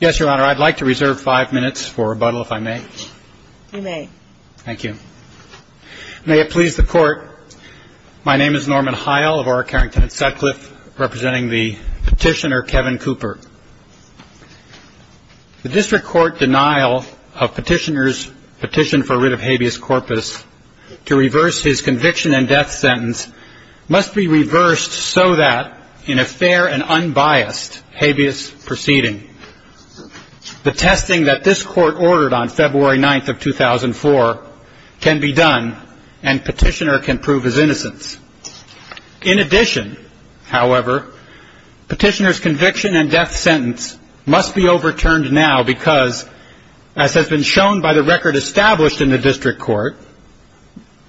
Yes, Your Honor, I'd like to reserve five minutes for rebuttal, if I may. You may. Thank you. May it please the Court, my name is Norman Heil of Orokarrington and Sutcliffe, representing the petitioner Kevin Cooper. The district court denial of petitioner's petition for rid of habeas corpus to reverse his conviction and death sentence must be reversed so that, in a fair and unbiased habeas proceeding, the testing that this Court ordered on February 9th of 2004 can be done and petitioner can prove his innocence. In addition, however, petitioner's conviction and death sentence must be overturned now because, as has been shown by the record established in the district court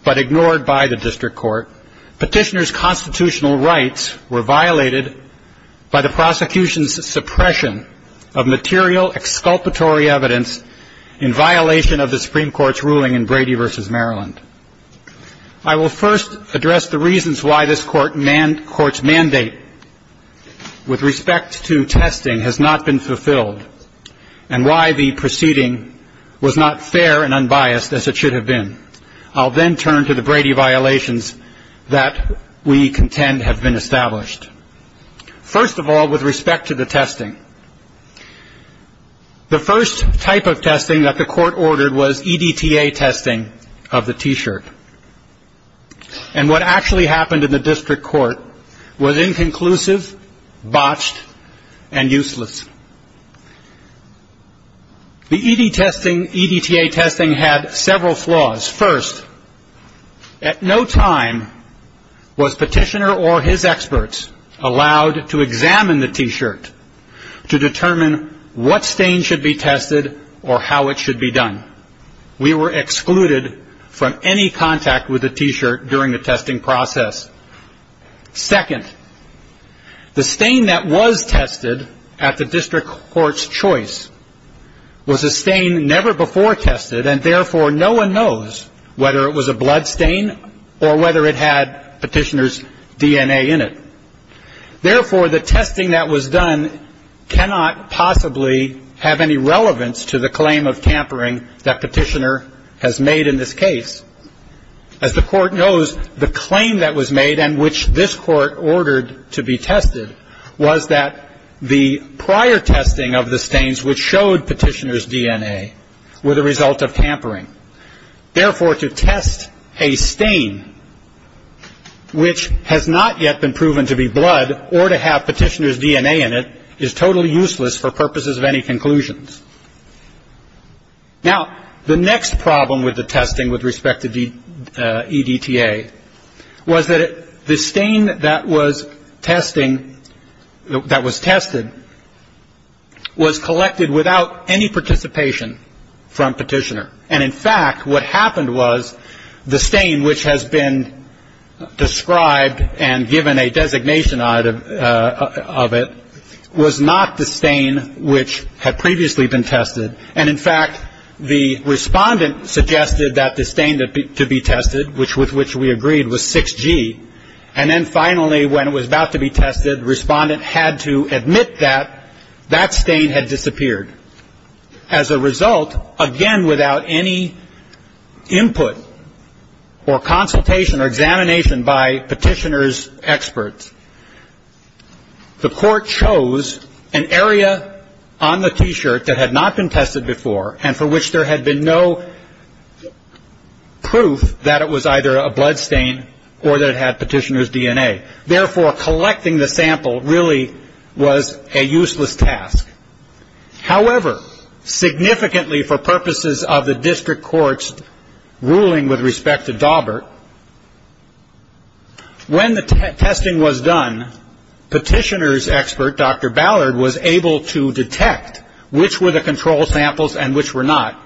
but ignored by the district court, petitioner's constitutional rights were violated by the prosecution's suppression of material, exculpatory evidence in violation of the Supreme Court's ruling in Brady v. Maryland. I will first address the reasons why this Court's mandate with respect to testing has not been fulfilled and why the proceeding was not fair and unbiased as it should have been. I'll then turn to the Brady violations that we contend have been established. First of all, with respect to the testing, the first type of testing that the Court ordered was EDTA testing of the T-shirt. And what actually happened in the district court was inconclusive, botched, and useless. The EDTA testing had several flaws. First, at no time was petitioner or his experts allowed to examine the T-shirt to determine what stain should be tested or how it should be done. We were excluded from any contact with the T-shirt during the testing process. Second, the stain that was tested at the district court's choice was a stain never before tested, and therefore no one knows whether it was a blood stain or whether it had petitioner's DNA in it. Therefore, the testing that was done cannot possibly have any relevance to the claim of tampering that petitioner has made in this case. As the Court knows, the claim that was made and which this Court ordered to be tested was that the prior testing of the stains which showed petitioner's DNA were the result of tampering. Therefore, to test a stain which has not yet been proven to be blood or to have petitioner's DNA in it is totally useless for purposes of any conclusions. Now, the next problem with the testing with respect to EDTA was that the stain that was testing that was tested was collected without any participation from petitioner. And in fact, what happened was the stain which has been described and given a designation of it was not the stain which had previously been tested. And in fact, the respondent suggested that the stain to be tested, with which we agreed, was 6G. And then finally, when it was about to be tested, the respondent had to admit that that stain had disappeared. As a result, again without any input or consultation or examination by petitioner's experts, the Court chose an area on the T-shirt that had not been tested before and for which there had been no proof that it was either a blood stain or that it had petitioner's DNA. Therefore, collecting the sample really was a useless task. However, significantly for purposes of the district court's ruling with respect to Daubert, when the testing was done, petitioner's expert, Dr. Ballard, was able to detect which were the control samples and which were not,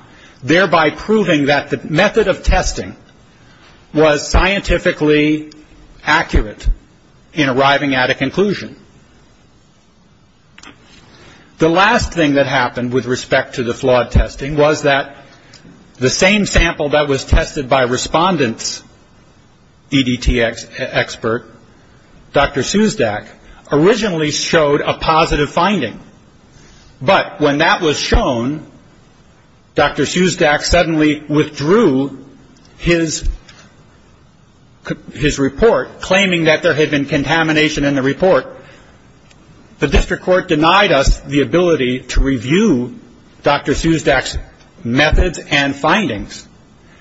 thereby proving that the method of testing was scientifically accurate in arriving at a conclusion. The last thing that happened with respect to the flawed testing was that the same sample that was tested by respondent's EDT expert, Dr. Suzdak, originally showed a positive finding. But when that was shown, Dr. Suzdak suddenly withdrew his report, claiming that there had been contamination in the report. The district court denied us the ability to review Dr. Suzdak's methods and findings,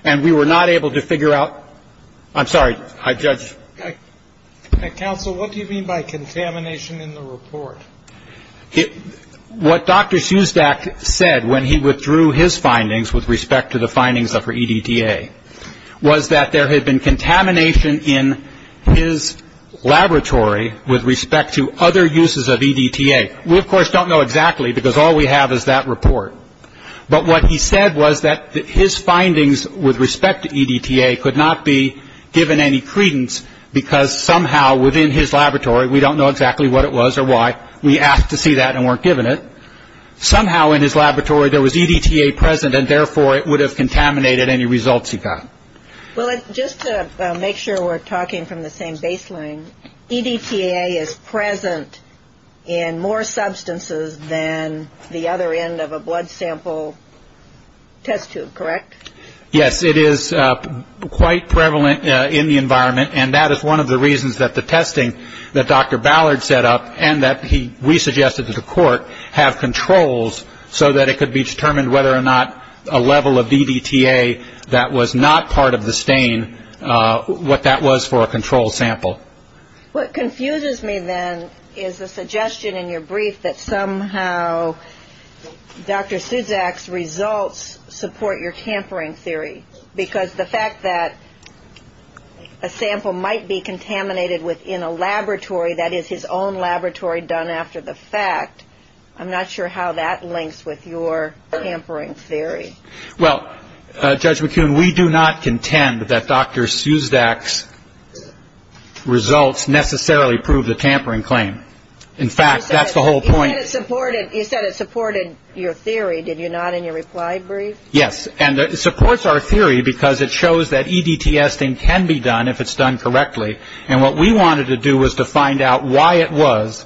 and we were not able to figure out – I'm sorry, Judge. Counsel, what do you mean by contamination in the report? What Dr. Suzdak said when he withdrew his findings with respect to the findings of her EDTA was that there had been contamination in his laboratory with respect to other uses of EDTA. We, of course, don't know exactly because all we have is that report. But what he said was that his findings with respect to EDTA could not be given any credence because somehow within his laboratory – we don't know exactly what it was or why. We asked to see that and weren't given it. But somehow in his laboratory there was EDTA present, and therefore it would have contaminated any results he got. Well, just to make sure we're talking from the same baseline, EDTA is present in more substances than the other end of a blood sample test tube, correct? Yes, it is quite prevalent in the environment, and that is one of the reasons that the testing that Dr. Ballard set up and that he re-suggested to the court have controls so that it could be determined whether or not a level of EDTA that was not part of the stain, what that was for a controlled sample. What confuses me then is the suggestion in your brief that somehow Dr. Suzdak's results support your tampering theory because the fact that a sample might be contaminated within a laboratory that is his own laboratory done after the fact, I'm not sure how that links with your tampering theory. Well, Judge McCune, we do not contend that Dr. Suzdak's results necessarily prove the tampering claim. In fact, that's the whole point. You said it supported your theory, did you not, in your reply brief? Yes, and it supports our theory because it shows that EDTA testing can be done if it's done correctly, and what we wanted to do was to find out why it was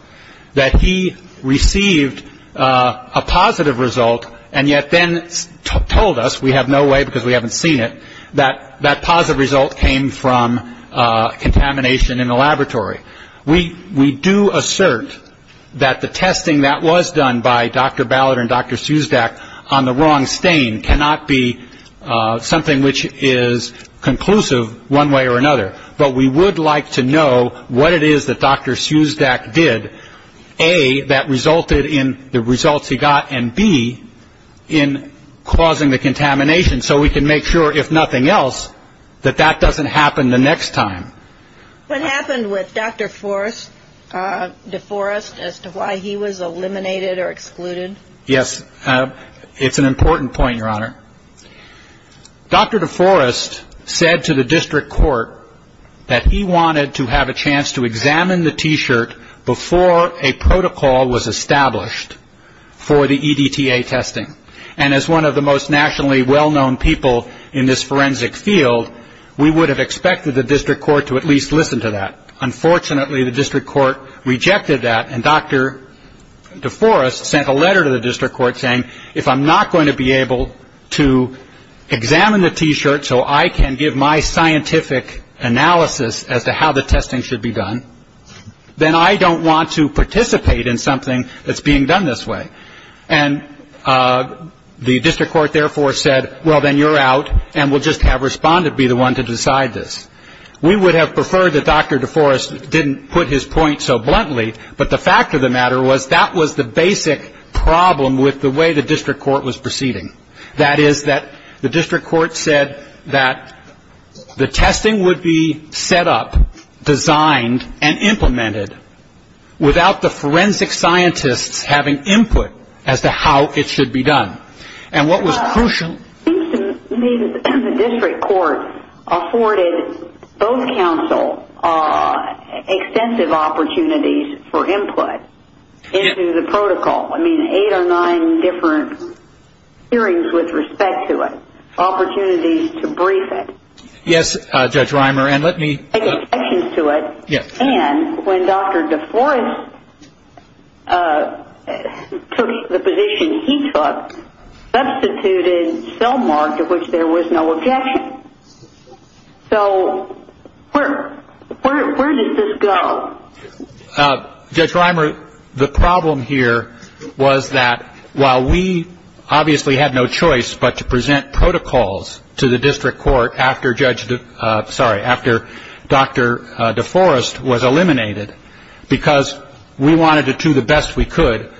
that he received a positive result and yet then told us, we have no way because we haven't seen it, that that positive result came from contamination in the laboratory. We do assert that the testing that was done by Dr. Ballard and Dr. Suzdak on the wrong stain cannot be something which is conclusive one way or another, but we would like to know what it is that Dr. Suzdak did, A, that resulted in the results he got, and B, in causing the contamination so we can make sure, if nothing else, that that doesn't happen the next time. What happened with Dr. DeForest as to why he was eliminated or excluded? Yes, it's an important point, Your Honor. Dr. DeForest said to the district court that he wanted to have a chance to examine the T-shirt before a protocol was established for the EDTA testing, and as one of the most nationally well-known people in this forensic field, we would have expected the district court to at least listen to that. Unfortunately, the district court rejected that, and Dr. DeForest sent a letter to the district court saying, if I'm not going to be able to examine the T-shirt so I can give my scientific analysis as to how the testing should be done, then I don't want to participate in something that's being done this way. And the district court, therefore, said, well, then you're out, and we'll just have respondent be the one to decide this. We would have preferred that Dr. DeForest didn't put his point so bluntly, but the fact of the matter was that was the basic problem with the way the district court was proceeding. That is that the district court said that the testing would be set up, designed, and implemented without the forensic scientists having input as to how it should be done. And what was crucial- It seems to me that the district court afforded both counsel extensive opportunities for input into the protocol. I mean, eight or nine different hearings with respect to it, opportunities to brief it. Yes, Judge Reimer, and let me- when Dr. DeForest took the position he took, substituted cell mark to which there was no objection. So where does this go? Judge Reimer, the problem here was that while we obviously had no choice but to present protocols to the district court after Judge- sorry, after Dr. DeForest was eliminated because we wanted to do the best we could,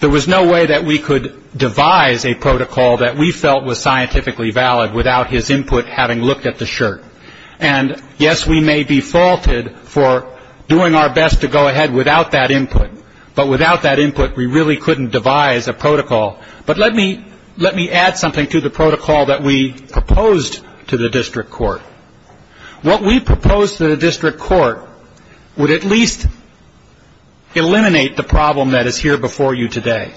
there was no way that we could devise a protocol that we felt was scientifically valid without his input having looked at the shirt. And yes, we may be faulted for doing our best to go ahead without that input, but without that input, we really couldn't devise a protocol. But let me add something to the protocol that we proposed to the district court. What we proposed to the district court would at least eliminate the problem that is here before you today.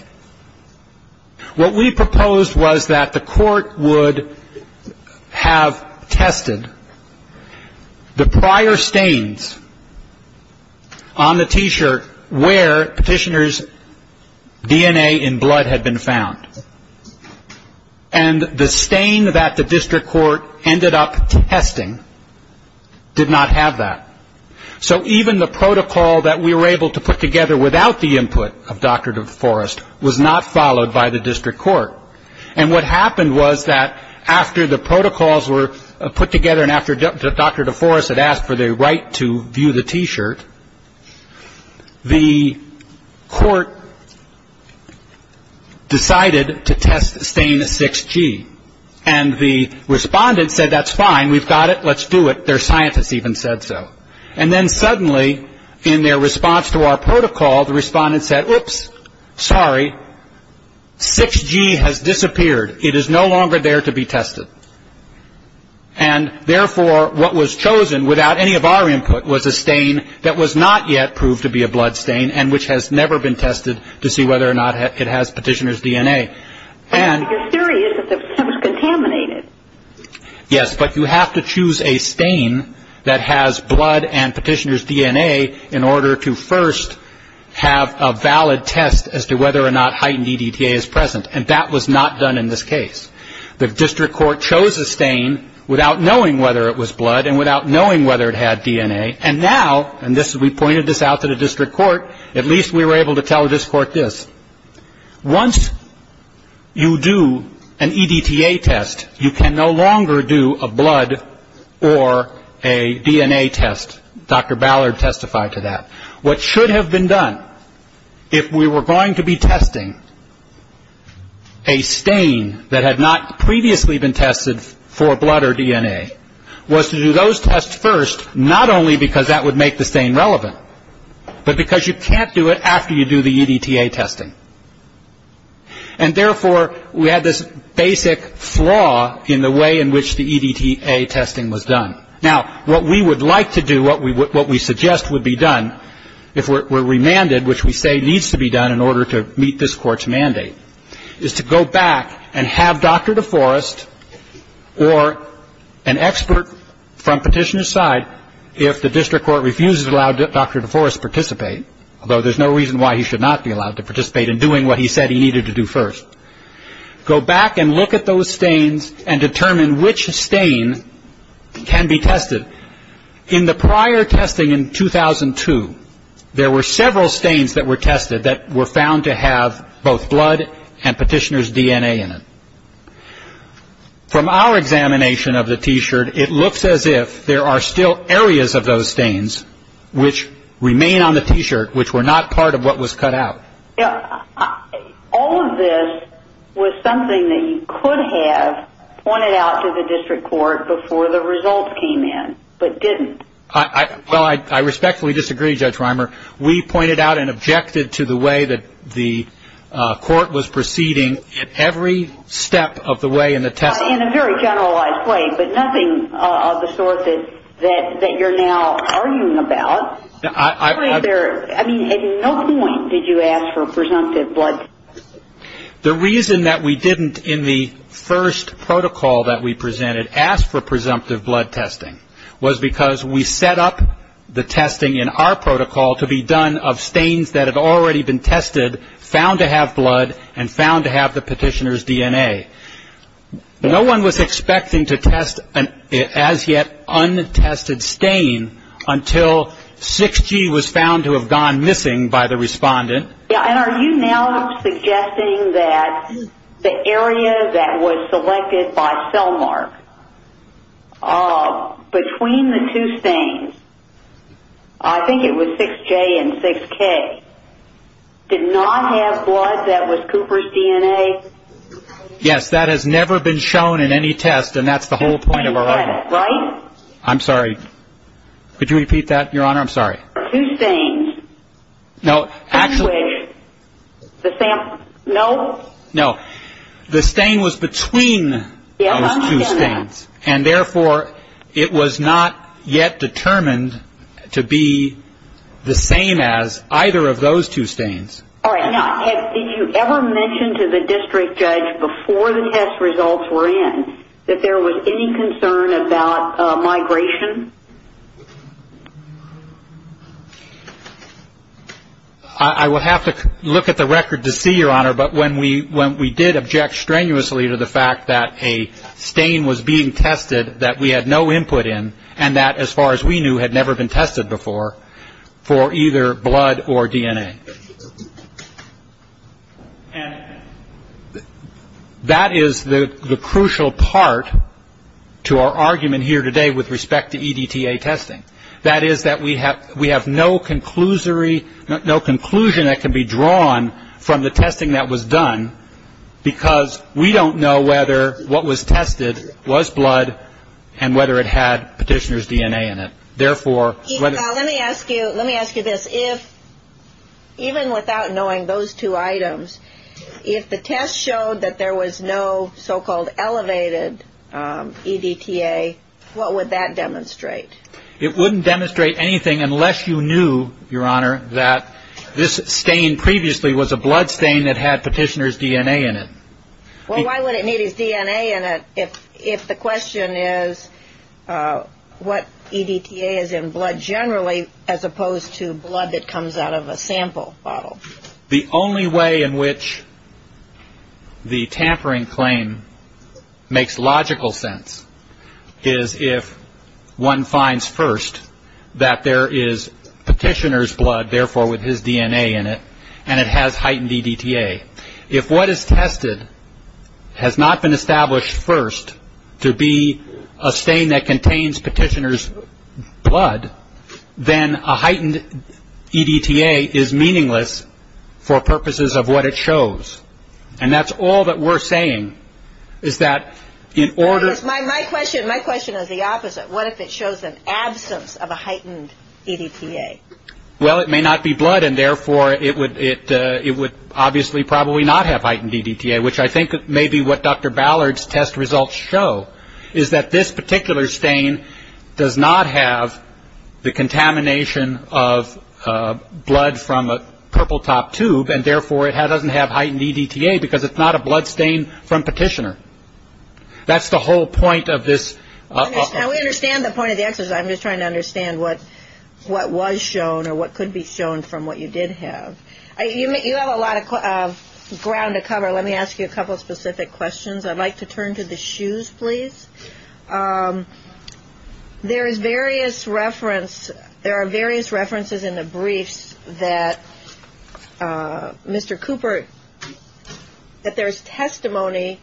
What we proposed was that the court would have tested the prior stains on the T-shirt where Petitioner's DNA in blood had been found. And the stain that the district court ended up testing did not have that. So even the protocol that we were able to put together without the input of Dr. DeForest was not followed by the district court. And what happened was that after the protocols were put together and after Dr. DeForest had asked for the right to view the T-shirt, the court decided to test stain 6G. And the respondent said, that's fine, we've got it, let's do it. Their scientist even said so. And then suddenly, in their response to our protocol, the respondent said, oops, sorry, 6G has disappeared. It is no longer there to be tested. And therefore, what was chosen without any of our input was a stain that was not yet proved to be a blood stain and which has never been tested to see whether or not it has Petitioner's DNA. You're serious? It was contaminated. Yes, but you have to choose a stain that has blood and Petitioner's DNA in order to first have a valid test as to whether or not heightened EDTA is present. And that was not done in this case. The district court chose a stain without knowing whether it was blood and without knowing whether it had DNA. And now, and we pointed this out to the district court, at least we were able to tell the district court this. Once you do an EDTA test, you can no longer do a blood or a DNA test. Dr. Ballard testified to that. What should have been done, if we were going to be testing a stain that had not previously been tested for blood or DNA, was to do those tests first, not only because that would make the stain relevant, but because you can't do it after you do the EDTA testing. And therefore, we had this basic flaw in the way in which the EDTA testing was done. Now, what we would like to do, what we suggest would be done, if we're remanded, which we say needs to be done in order to meet this Court's mandate, is to go back and have Dr. DeForest or an expert from Petitioner's side, if the district court refuses to allow Dr. DeForest to participate, although there's no reason why he should not be allowed to participate in doing what he said he needed to do first, go back and look at those stains and determine which stain can be tested. In the prior testing in 2002, there were several stains that were tested that were found to have both blood and Petitioner's DNA in it. From our examination of the T-shirt, it looks as if there are still areas of those stains which remain on the T-shirt which were not part of what was cut out. All of this was something that you could have pointed out to the district court before the results came in, but didn't. Well, I respectfully disagree, Judge Reimer. We pointed out and objected to the way that the court was proceeding at every step of the way in the testing. In a very generalized way, but nothing of the sort that you're now arguing about. I mean, at no point did you ask for presumptive blood testing. The reason that we didn't in the first protocol that we presented ask for presumptive blood testing was because we set up the testing in our protocol to be done of stains that had already been tested, found to have blood, and found to have the Petitioner's DNA. No one was expecting to test an as yet untested stain until 6G was found to have gone missing by the respondent. And are you now suggesting that the area that was selected by Cellmark between the two stains, I think it was 6J and 6K, did not have blood that was Cooper's DNA? Yes, that has never been shown in any test, and that's the whole point of our argument. Right? I'm sorry. I'm sorry. No. No. The stain was between those two stains. Yes, I understand that. And therefore, it was not yet determined to be the same as either of those two stains. All right. Now, did you ever mention to the district judge before the test results were in that there was any concern about migration? I will have to look at the record to see, Your Honor, but when we did object strenuously to the fact that a stain was being tested that we had no input in and that, as far as we knew, had never been tested before for either blood or DNA. And that is the crucial part to our argument here today with respect to EDTA testing. That is that we have no conclusion that can be drawn from the testing that was done because we don't know whether what was tested was blood and whether it had petitioner's DNA in it. Therefore, whether... Let me ask you this. If, even without knowing those two items, if the test showed that there was no so-called elevated EDTA, what would that demonstrate? It wouldn't demonstrate anything unless you knew, Your Honor, that this stain previously was a blood stain that had petitioner's DNA in it. Well, why would it need his DNA in it if the question is what EDTA is in blood generally as opposed to blood that comes out of a sample bottle? The only way in which the tampering claim makes logical sense is if one finds first that there is petitioner's blood, therefore with his DNA in it, and it has heightened EDTA. If what is tested has not been established first to be a stain that contains petitioner's blood, then a heightened EDTA is meaningless for purposes of what it shows. And that's all that we're saying is that in order... My question is the opposite. What if it shows an absence of a heightened EDTA? Well, it may not be blood, and therefore it would obviously probably not have heightened EDTA, which I think may be what Dr. Ballard's test results show, is that this particular stain does not have the contamination of blood from a purple top tube, and therefore it doesn't have heightened EDTA because it's not a blood stain from petitioner. That's the whole point of this... Now, we understand the point of the exercise. I'm just trying to understand what was shown or what could be shown from what you did have. You have a lot of ground to cover. Let me ask you a couple of specific questions. I'd like to turn to the shoes, please. There is various reference... There are various references in the briefs that Mr. Cooper... that there is testimony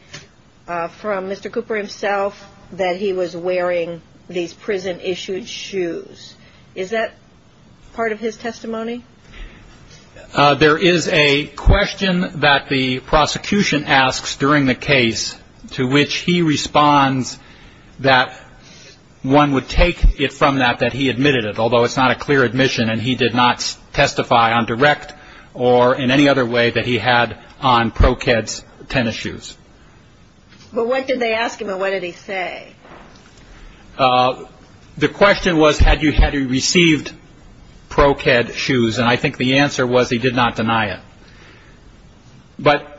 from Mr. Cooper himself that he was wearing these prison-issued shoes. Is that part of his testimony? There is a question that the prosecution asks during the case to which he responds that one would take it from that that he admitted it, although it's not a clear admission and he did not testify on direct or in any other way that he had on Pro-Ked's tennis shoes. But what did they ask him and what did he say? The question was had he received Pro-Ked shoes, and I think the answer was he did not deny it. But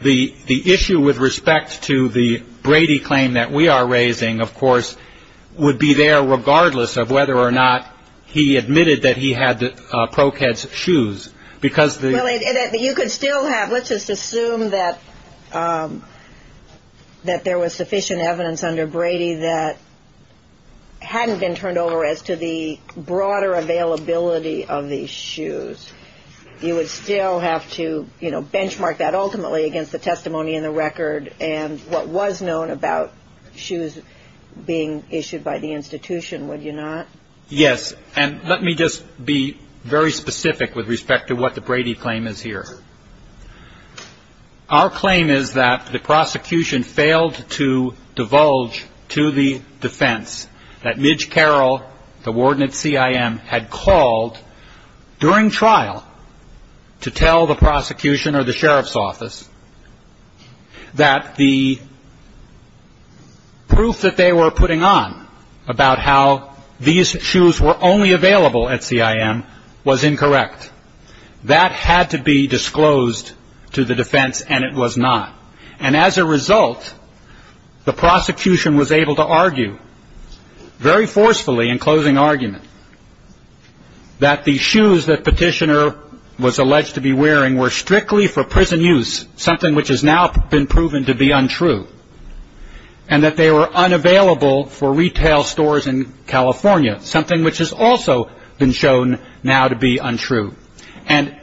the issue with respect to the Brady claim that we are raising, of course, would be there regardless of whether or not he admitted that he had Pro-Ked's shoes because... You could still have... Let's just assume that there was sufficient evidence under Brady that hadn't been turned over as to the broader availability of these shoes. You would still have to benchmark that ultimately against the testimony in the record and what was known about shoes being issued by the institution, would you not? Yes, and let me just be very specific with respect to what the Brady claim is here. Our claim is that the prosecution failed to divulge to the defense that Midge Carroll, the warden at CIM, had called during trial to tell the prosecution or the sheriff's office that the proof that they were putting on about how these shoes were only available at CIM was incorrect. That had to be disclosed to the defense and it was not. And as a result, the prosecution was able to argue very forcefully in closing argument that the shoes that Petitioner was alleged to be wearing were strictly for prison use, something which has now been proven to be untrue, and that they were unavailable for retail stores in California, something which has also been shown now to be untrue. And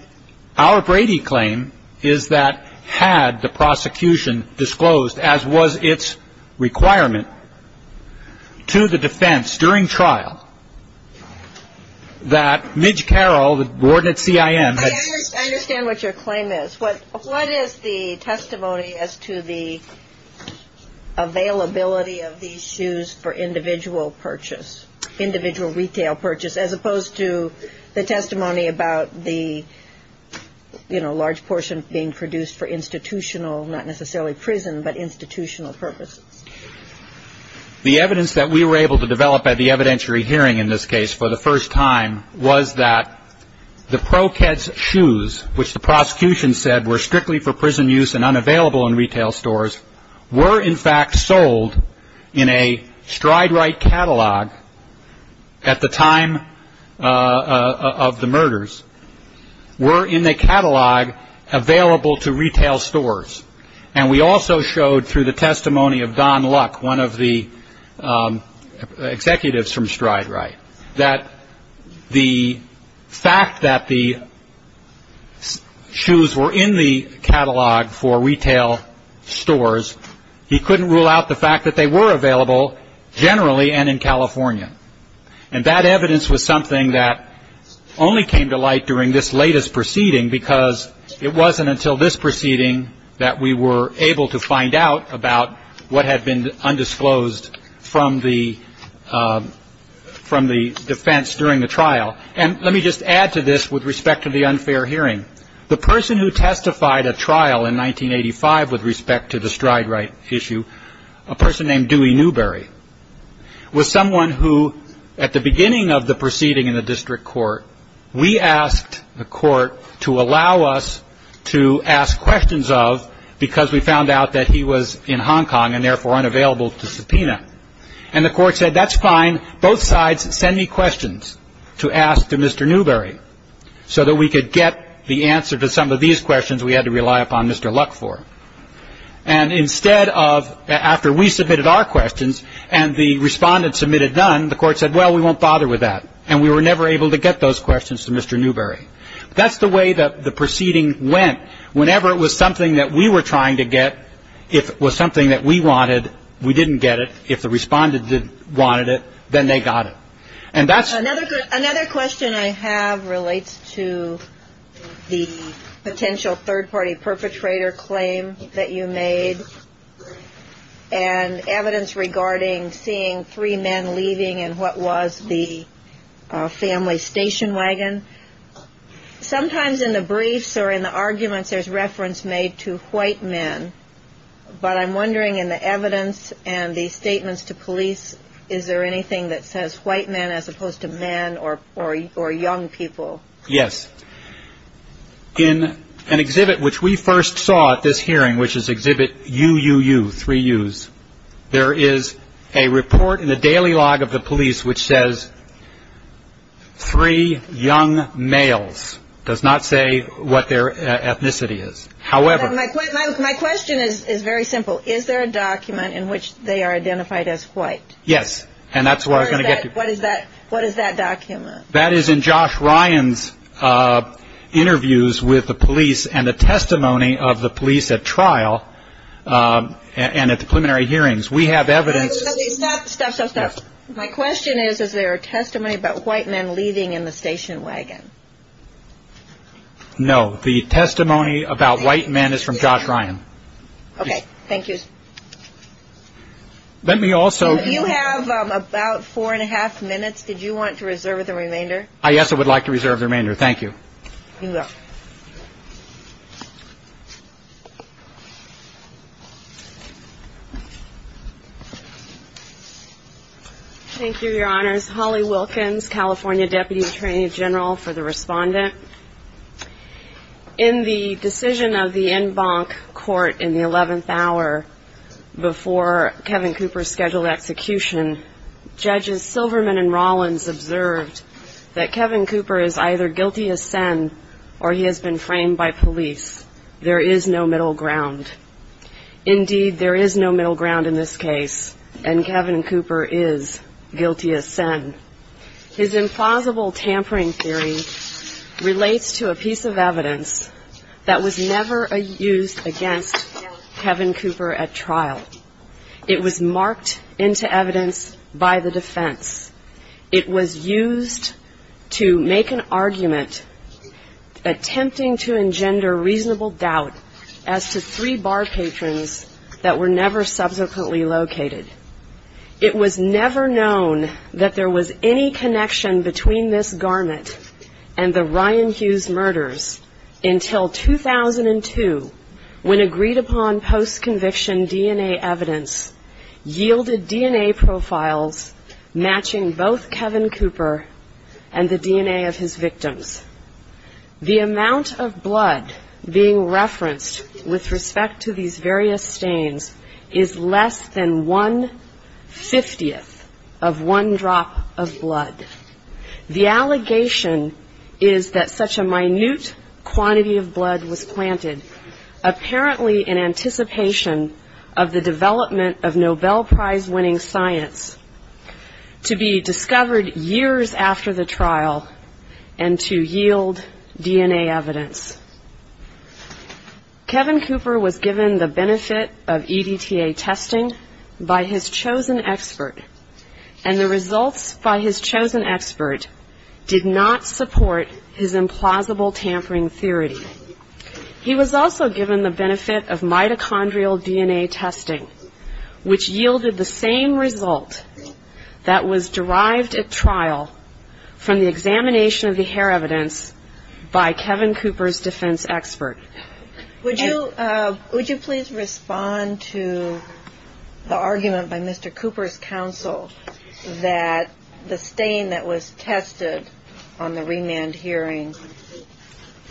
our Brady claim is that had the prosecution disclosed, as was its requirement, to the defense during trial, that Midge Carroll, the warden at CIM, had I understand what your claim is. What is the testimony as to the availability of these shoes for individual purchase, individual retail purchase, as opposed to the testimony about the, you know, The evidence that we were able to develop at the evidentiary hearing in this case for the first time was that the Pro-Keds shoes, which the prosecution said were strictly for prison use and unavailable in retail stores, were in fact sold in a stride-right catalog at the time of the murders, were in a catalog available to retail stores. And we also showed through the testimony of Don Luck, one of the executives from stride-right, that the fact that the shoes were in the catalog for retail stores, he couldn't rule out the fact that they were available generally and in California. And that evidence was something that only came to light during this latest proceeding because it wasn't until this proceeding that we were able to find out about what had been undisclosed from the defense during the trial. And let me just add to this with respect to the unfair hearing. The person who testified at trial in 1985 with respect to the stride-right issue, a person named Dewey Newberry, was someone who, at the beginning of the proceeding in the district court, we asked the court to allow us to ask questions of because we found out that he was in Hong Kong and therefore unavailable to subpoena. And the court said, that's fine, both sides send me questions to ask to Mr. Newberry so that we could get the answer to some of these questions we had to rely upon Mr. Luck for. And instead of, after we submitted our questions and the respondent submitted none, the court said, well, we won't bother with that. And we were never able to get those questions to Mr. Newberry. That's the way that the proceeding went. Whenever it was something that we were trying to get, if it was something that we wanted, we didn't get it. If the respondent wanted it, then they got it. Another question I have relates to the potential third-party perpetrator claim that you made and evidence regarding seeing three men leaving in what was the family station wagon. Sometimes in the briefs or in the arguments there's reference made to white men, but I'm wondering in the evidence and the statements to police, is there anything that says white men as opposed to men or young people? Yes. In an exhibit which we first saw at this hearing, which is exhibit UUU, three U's, there is a report in the daily log of the police which says three young males. It does not say what their ethnicity is. My question is very simple. Is there a document in which they are identified as white? Yes, and that's where I'm going to get to. What is that document? That is in Josh Ryan's interviews with the police and the testimony of the police at trial and at the preliminary hearings. We have evidence. Stop, stop, stop, stop. My question is, is there a testimony about white men leaving in the station wagon? No. The testimony about white men is from Josh Ryan. Okay. Thank you. You have about four and a half minutes. Did you want to reserve the remainder? Yes, I would like to reserve the remainder. Thank you. You're welcome. Thank you, Your Honors. Holly Wilkins, California Deputy Attorney General for the Respondent. In the decision of the en banc court in the 11th hour before Kevin Cooper's scheduled execution, Judges Silverman and Rollins observed that Kevin Cooper is either guilty as sent or he has been framed by police. There is no middle ground. Indeed, there is no middle ground in this case, and Kevin Cooper is guilty as sent. His implausible tampering theory relates to a piece of evidence that was never used against Kevin Cooper at trial. It was marked into evidence by the defense. It was used to make an argument attempting to engender reasonable doubt as to three bar patrons that were never subsequently located. It was never known that there was any connection between this garment and the Ryan Hughes murders until 2002 when agreed-upon post-conviction DNA evidence yielded DNA profiles matching both Kevin Cooper and the DNA of his victims. The amount of blood being referenced with respect to these various stains is less than one-fiftieth of one drop of blood. The allegation is that such a minute quantity of blood was planted, apparently in anticipation of the development of Nobel Prize-winning science, to be discovered years after the trial and to yield DNA evidence. Kevin Cooper was given the benefit of EDTA testing by his chosen expert, and the results by his chosen expert did not support his implausible tampering theory. He was also given the benefit of mitochondrial DNA testing, which yielded the same result that was derived at trial from the examination of the hair evidence by Kevin Cooper's defense expert. Would you please respond to the argument by Mr. Cooper's counsel that the stain that was tested on the remand hearing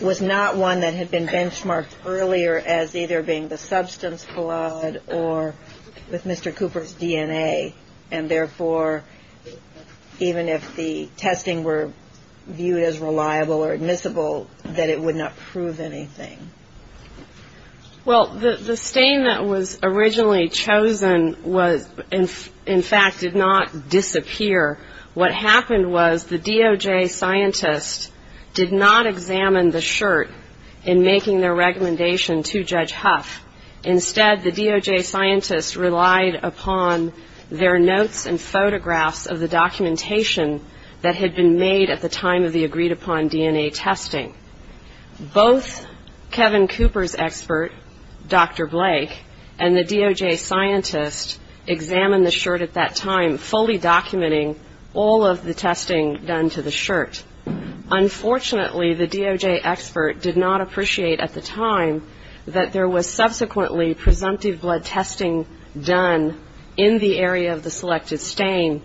was not one that had been benchmarked earlier as either being the substance blood or with Mr. Cooper's DNA, and therefore even if the testing were viewed as reliable or admissible, that it would not prove anything? Well, the stain that was originally chosen in fact did not disappear. What happened was the DOJ scientist did not examine the shirt in making their recommendation to Judge Huff. Instead, the DOJ scientist relied upon their notes and photographs of the documentation that had been made at the time of the agreed-upon DNA testing. Both Kevin Cooper's expert, Dr. Blake, and the DOJ scientist examined the shirt at that time, fully documenting all of the testing done to the shirt. Unfortunately, the DOJ expert did not appreciate at the time that there was subsequently presumptive blood testing done in the area of the selected stain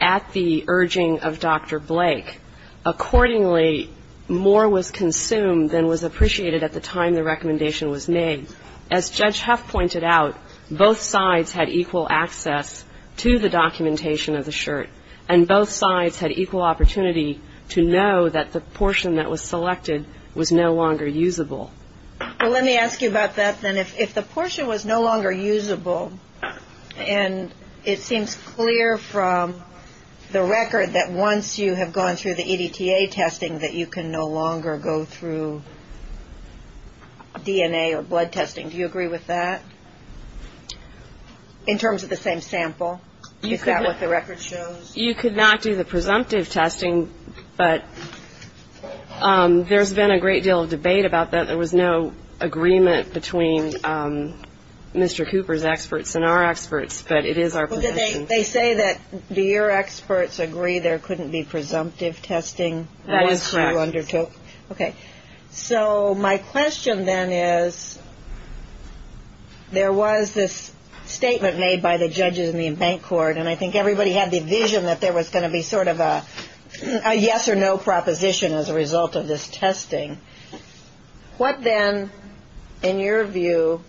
at the urging of Dr. Blake. Accordingly, more was consumed than was appreciated at the time the recommendation was made. As Judge Huff pointed out, both sides had equal access to the documentation of the shirt, and both sides had equal opportunity to know that the portion that was selected was no longer usable. Well, let me ask you about that then. If the portion was no longer usable, and it seems clear from the record that once you have gone through the EDTA testing that you can no longer go through DNA or blood testing. Do you agree with that in terms of the same sample? Is that what the record shows? You could not do the presumptive testing, but there's been a great deal of debate about that. There was no agreement between Mr. Cooper's experts and our experts, but it is our position. They say that your experts agree there couldn't be presumptive testing once you undertook. That is correct. Okay. So my question then is there was this statement made by the judges in the bank court, and I think everybody had the vision that there was going to be sort of a yes or no proposition as a result of this testing. What then, in your view,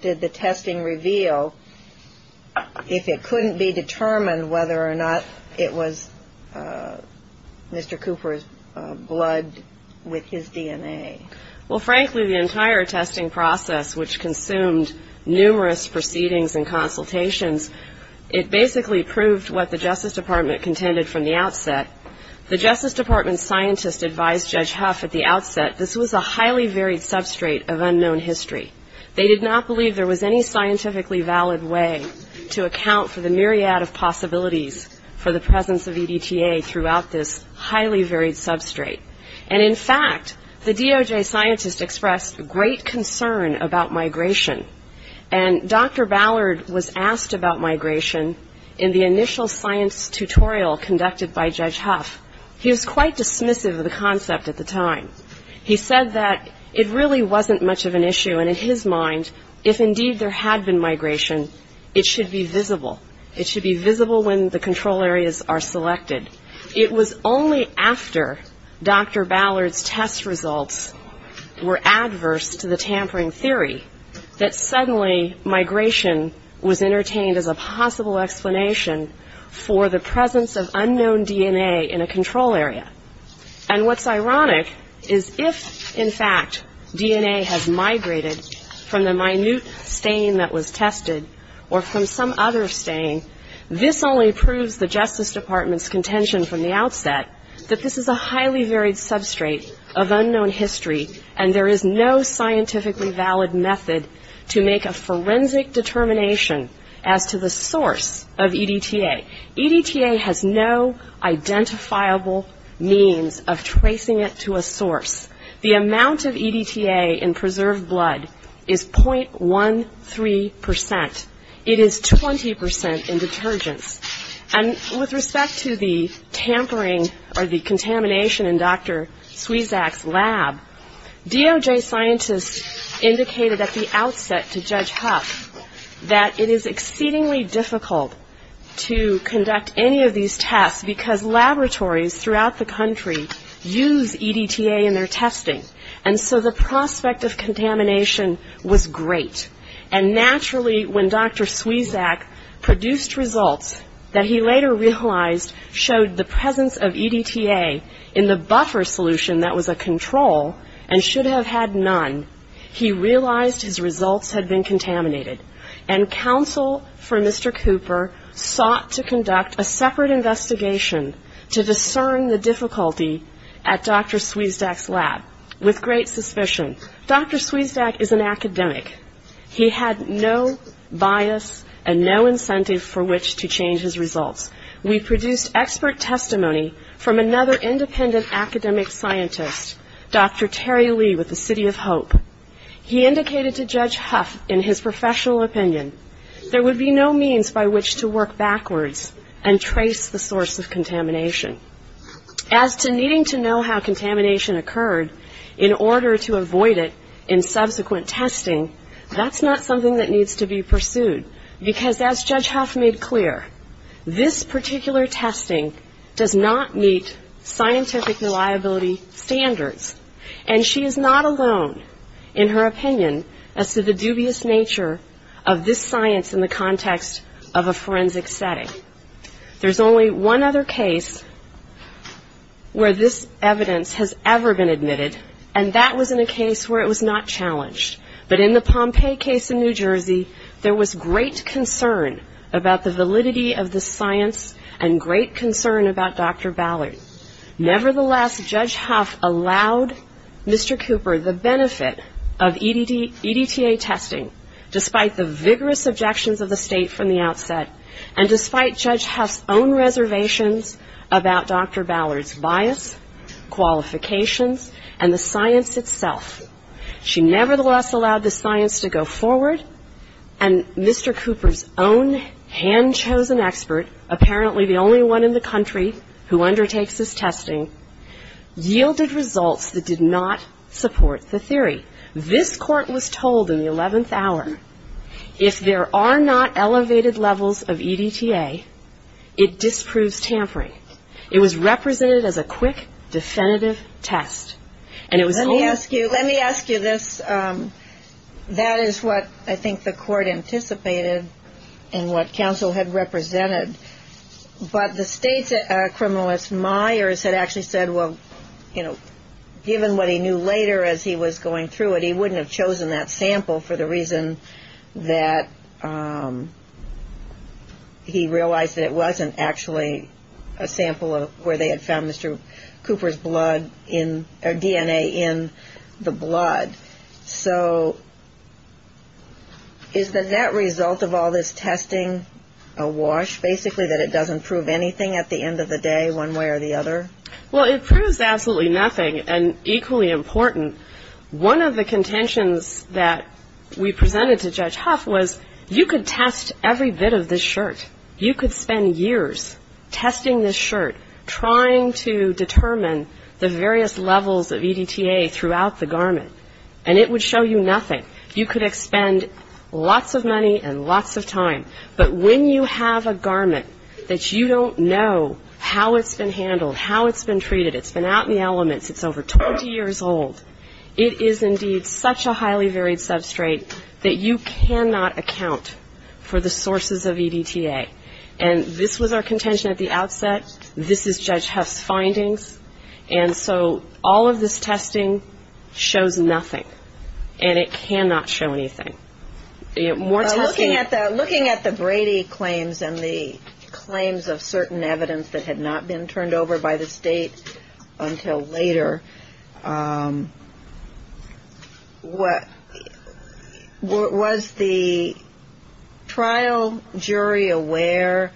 did the testing reveal if it couldn't be determined whether or not it was Mr. Cooper's blood with his DNA? Well, frankly, the entire testing process, which consumed numerous proceedings and consultations, it basically proved what the Justice Department contended from the outset. The Justice Department scientist advised Judge Huff at the outset this was a highly varied substrate of unknown history. They did not believe there was any scientifically valid way to account for the myriad of possibilities for the presence of EDTA throughout this highly varied substrate. And, in fact, the DOJ scientist expressed great concern about migration, and Dr. Ballard was asked about migration in the initial science tutorial conducted by Judge Huff. He was quite dismissive of the concept at the time. He said that it really wasn't much of an issue, and in his mind, if indeed there had been migration, it should be visible. It should be visible when the control areas are selected. It was only after Dr. Ballard's test results were adverse to the tampering theory that suddenly migration was entertained as a possible explanation for the presence of unknown DNA in a control area. And what's ironic is if, in fact, DNA has migrated from the minute stain that was tested or from some other stain, this only proves the Justice Department's contention from the outset that this is a highly varied substrate of unknown history, and there is no scientifically valid method to make a forensic determination as to the source of EDTA. EDTA has no identifiable means of tracing it to a source. The amount of EDTA in preserved blood is .13 percent. It is 20 percent in detergents. And with respect to the tampering or the contamination in Dr. Sweczak's lab, DOJ scientists indicated at the outset to Judge Huff that it is exceedingly difficult to conduct any of these tests because laboratories throughout the country use EDTA in their testing, and so the prospect of contamination was great. And naturally, when Dr. Sweczak produced results that he later realized showed the presence of EDTA in the buffer solution that was a control and should have had none, he realized his results had been contaminated. And counsel for Mr. Cooper sought to conduct a separate investigation to discern the difficulty at Dr. Sweczak's lab with great suspicion. Dr. Sweczak is an academic. He had no bias and no incentive for which to change his results. We produced expert testimony from another independent academic scientist, Dr. Terry Lee with the City of Hope. He indicated to Judge Huff, in his professional opinion, there would be no means by which to work backwards and trace the source of contamination. As to needing to know how contamination occurred in order to avoid it in subsequent testing, that's not something that needs to be pursued because, as Judge Huff made clear, this particular testing does not meet scientific reliability standards, and she is not alone in her opinion as to the dubious nature of this science in the context of a forensic setting. There's only one other case where this evidence has ever been admitted, and that was in a case where it was not challenged. But in the Pompeii case in New Jersey, there was great concern about the validity of the science and great concern about Dr. Ballard. Nevertheless, Judge Huff allowed Mr. Cooper the benefit of EDTA testing, despite the vigorous objections of the State from the outset, and despite Judge Huff's own reservations about Dr. Ballard's bias, qualifications, and the science itself. She nevertheless allowed the science to go forward, and Mr. Cooper's own hand-chosen expert, apparently the only one in the country who undertakes this testing, this Court was told in the 11th hour, if there are not elevated levels of EDTA, it disproves tampering. It was represented as a quick, definitive test, and it was only Let me ask you this. That is what I think the Court anticipated and what counsel had represented, but the State's criminalist, Myers, had actually said, given what he knew later as he was going through it, he wouldn't have chosen that sample for the reason that he realized that it wasn't actually a sample where they had found Mr. Cooper's DNA in the blood. So is the net result of all this testing a wash, basically that it doesn't prove anything at the end of the day, one way or the other? Well, it proves absolutely nothing, and equally important, one of the contentions that we presented to Judge Huff was you could test every bit of this shirt. You could spend years testing this shirt, trying to determine the various levels of EDTA throughout the garment, and it would show you nothing. You could expend lots of money and lots of time, but when you have a garment that you don't know how it's been handled, how it's been treated, it's been out in the elements, it's over 20 years old, it is indeed such a highly varied substrate that you cannot account for the sources of EDTA, and this was our contention at the outset. This is Judge Huff's findings, and so all of this testing shows nothing, and it cannot show anything. Looking at the Brady claims and the claims of certain evidence that had not been turned over by the State until later, was the trial jury aware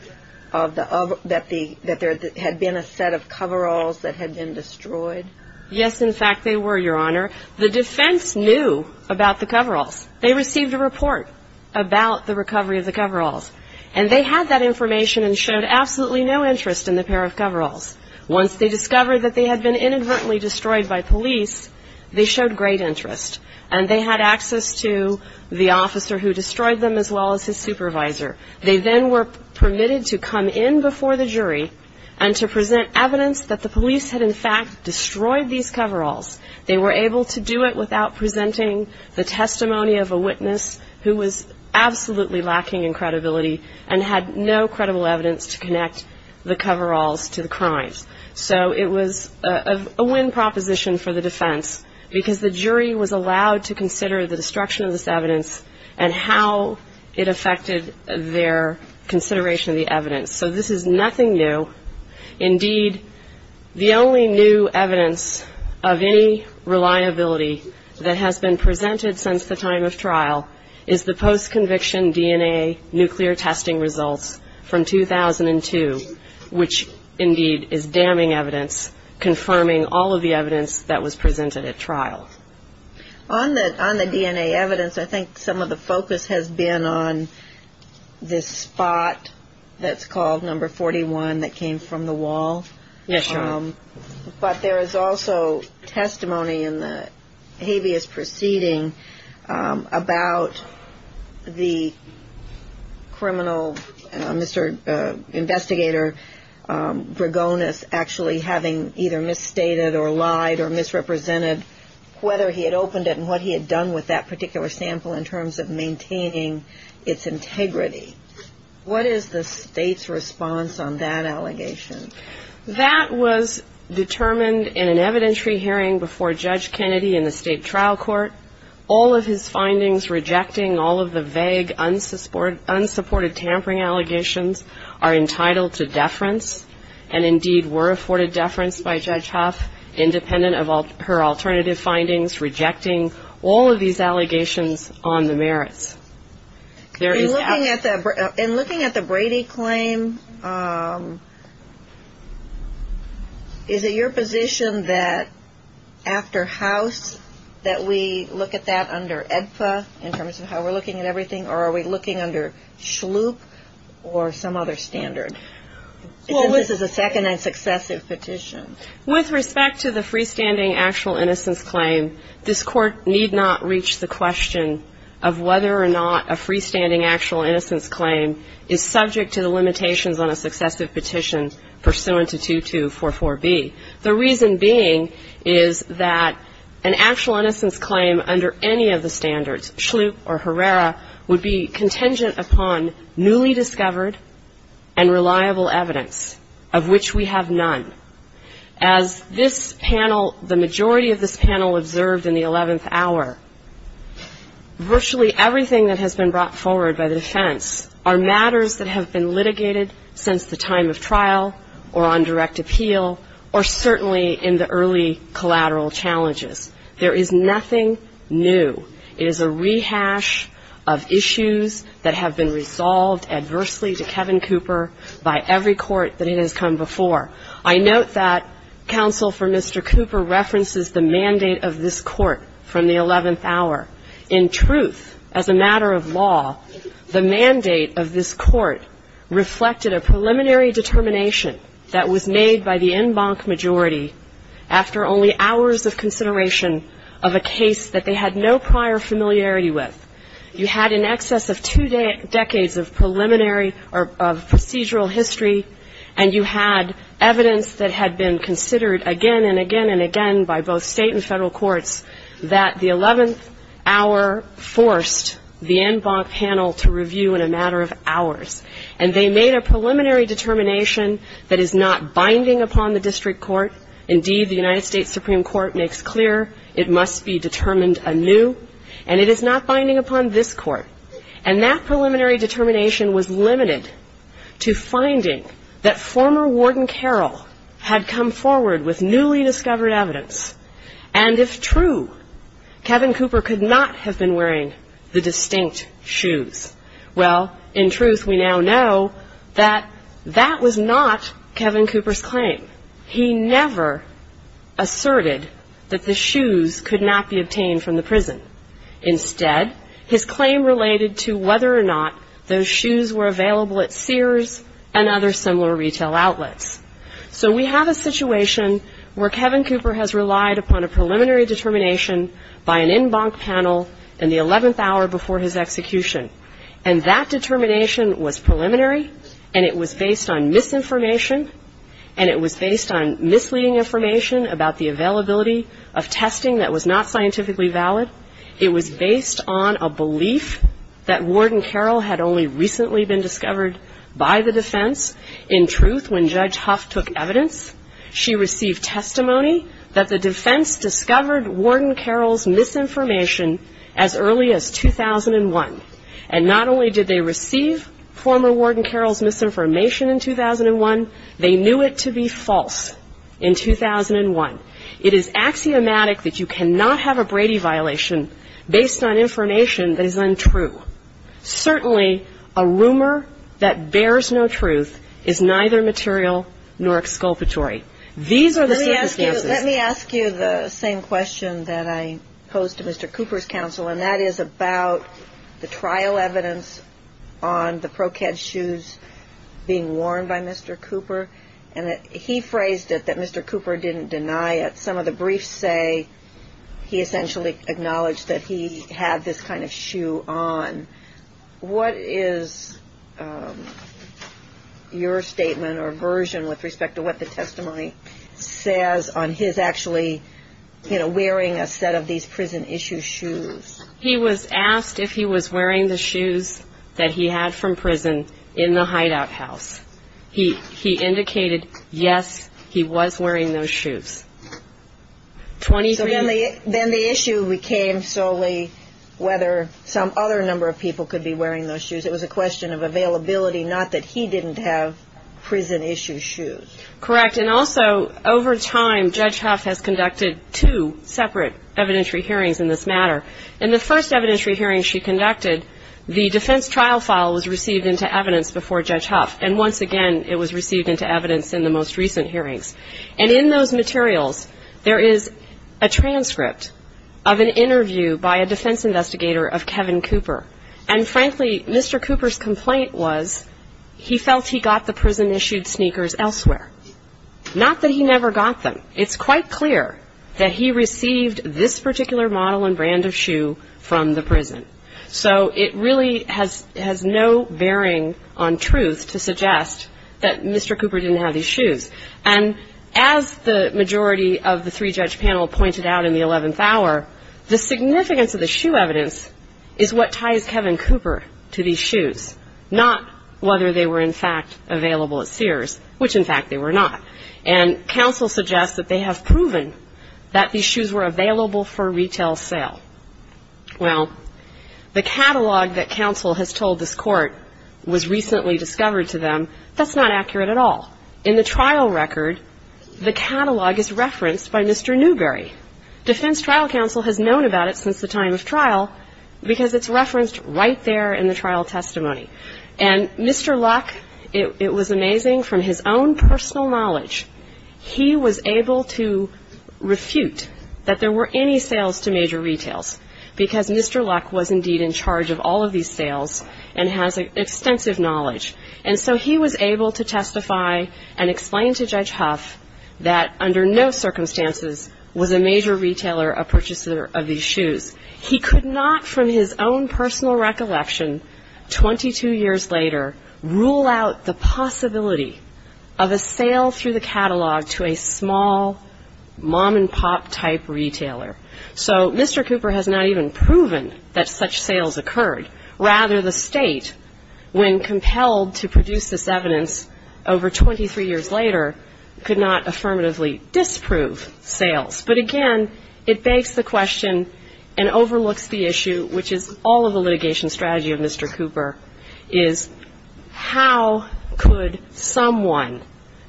that there had been a set of coveralls that had been destroyed? Yes, in fact, they were, Your Honor. The defense knew about the coveralls. They received a report about the recovery of the coveralls, and they had that information and showed absolutely no interest in the pair of coveralls. Once they discovered that they had been inadvertently destroyed by police, they showed great interest, and they had access to the officer who destroyed them as well as his supervisor. They then were permitted to come in before the jury and to present evidence that the police had, in fact, destroyed these coveralls. They were able to do it without presenting the testimony of a witness who was absolutely lacking in credibility and had no credible evidence to connect the coveralls to the crimes. So it was a win proposition for the defense because the jury was allowed to consider the destruction of this evidence and how it affected their consideration of the evidence. So this is nothing new. Indeed, the only new evidence of any reliability that has been presented since the time of trial is the post-conviction DNA nuclear testing results from 2002, which indeed is damning evidence confirming all of the evidence that was presented at trial. On the DNA evidence, I think some of the focus has been on this spot that's called number 41 that came from the wall. Yes, Your Honor. But there is also testimony in the habeas proceeding about the criminal, Mr. Investigator Gregonis, actually having either misstated or lied or misrepresented whether he had opened it and what he had done with that particular sample in terms of maintaining its integrity. What is the State's response on that allegation? That was determined in an evidentiary hearing before Judge Kennedy in the State Trial Court. All of his findings rejecting all of the vague, unsupported tampering allegations are entitled to deference and indeed were afforded deference by Judge Huff, independent of her alternative findings, rejecting all of these allegations on the merits. In looking at the Brady claim, is it your position that after House that we look at that under AEDPA in terms of how we're looking at everything, or are we looking under SHLUIP or some other standard? This is a second and successive petition. With respect to the freestanding actual innocence claim, this Court need not reach the question of whether or not a freestanding actual innocence claim is subject to the limitations on a successive petition pursuant to 2244B. The reason being is that an actual innocence claim under any of the standards, SHLUIP or HERRERA, would be contingent upon newly discovered and reliable evidence, of which we have none. As this panel, the majority of this panel observed in the 11th hour, virtually everything that has been brought forward by the defense are matters that have been litigated since the time of trial or on direct appeal or certainly in the early collateral challenges. There is nothing new. It is a rehash of issues that have been resolved adversely to Kevin Cooper by every court that it has come before. I note that counsel for Mr. Cooper references the mandate of this Court from the 11th hour. In truth, as a matter of law, the mandate of this Court reflected a preliminary determination that was made by the en banc majority after only hours of consideration of a case that they had no prior familiarity with. You had in excess of two decades of preliminary or procedural history, and you had evidence that had been considered again and again and again by both state and federal courts that the 11th hour forced the en banc panel to review in a matter of hours. And they made a preliminary determination that is not binding upon the district court. Indeed, the United States Supreme Court makes clear it must be determined anew, and it is not binding upon this Court. And that preliminary determination was limited to finding that former Warden Carroll had come forward with newly discovered evidence, and if true, Kevin Cooper could not have been wearing the distinct shoes. Well, in truth, we now know that that was not Kevin Cooper's claim. He never asserted that the shoes could not be obtained from the prison. Instead, his claim related to whether or not those shoes were available at Sears and other similar retail outlets. So we have a situation where Kevin Cooper has relied upon a preliminary determination by an en banc panel in the 11th hour before his execution. And that determination was preliminary, and it was based on misinformation, and it was based on misleading information about the availability of testing that was not scientifically valid. It was based on a belief that Warden Carroll had only recently been discovered by the defense. In truth, when Judge Huff took evidence, she received testimony that the defense discovered Warden Carroll's misinformation as early as 2001. And not only did they receive former Warden Carroll's misinformation in 2001, they knew it to be false in 2001. It is axiomatic that you cannot have a Brady violation based on information that is untrue. Certainly, a rumor that bears no truth is neither material nor exculpatory. These are the circumstances. Let me ask you the same question that I posed to Mr. Cooper's counsel, and that is about the trial evidence on the ProCad shoes being worn by Mr. Cooper. He phrased it that Mr. Cooper didn't deny it. Some of the briefs say he essentially acknowledged that he had this kind of shoe on. What is your statement or version with respect to what the testimony says on his actually, you know, wearing a set of these prison-issue shoes? He was asked if he was wearing the shoes that he had from prison in the hideout house. He indicated, yes, he was wearing those shoes. So then the issue became solely whether some other number of people could be wearing those shoes. It was a question of availability, not that he didn't have prison-issue shoes. Correct. And also, over time, Judge Huff has conducted two separate evidentiary hearings in this matter. In the first evidentiary hearing she conducted, the defense trial file was received into evidence before Judge Huff. And once again, it was received into evidence in the most recent hearings. And in those materials, there is a transcript of an interview by a defense investigator of Kevin Cooper. And frankly, Mr. Cooper's complaint was he felt he got the prison-issued sneakers elsewhere. Not that he never got them. It's quite clear that he received this particular model and brand of shoe from the prison. So it really has no bearing on truth to suggest that Mr. Cooper didn't have these shoes. And as the majority of the three-judge panel pointed out in the 11th hour, the significance of the shoe evidence is what ties Kevin Cooper to these shoes, not whether they were, in fact, available at Sears, which, in fact, they were not. And counsel suggests that they have proven that these shoes were available for retail sale. Well, the catalog that counsel has told this court was recently discovered to them, that's not accurate at all. In the trial record, the catalog is referenced by Mr. Newberry. Defense trial counsel has known about it since the time of trial because it's referenced right there in the trial testimony. And Mr. Luck, it was amazing, from his own personal knowledge, he was able to refute that there were any sales to major retails because Mr. Luck was indeed in charge of all of these sales and has extensive knowledge. And so he was able to testify and explain to Judge Huff that, under no circumstances, was a major retailer a purchaser of these shoes. He could not, from his own personal recollection, 22 years later, rule out the possibility of a sale through the catalog to a small mom-and-pop type retailer. So Mr. Cooper has not even proven that such sales occurred. Rather, the State, when compelled to produce this evidence over 23 years later, could not affirmatively disprove sales. But, again, it begs the question and overlooks the issue, which is all of the litigation strategy of Mr. Cooper, is how could someone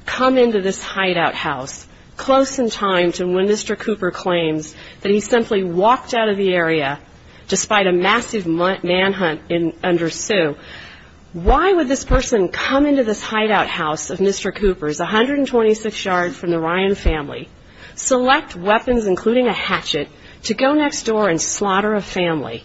come into this hideout house close in time to when Mr. Cooper claims that he simply walked out of the area despite a massive manhunt under Sue? Why would this person come into this hideout house of Mr. Cooper's, 126 yards from the Ryan family, select weapons, including a hatchet, to go next door and slaughter a family,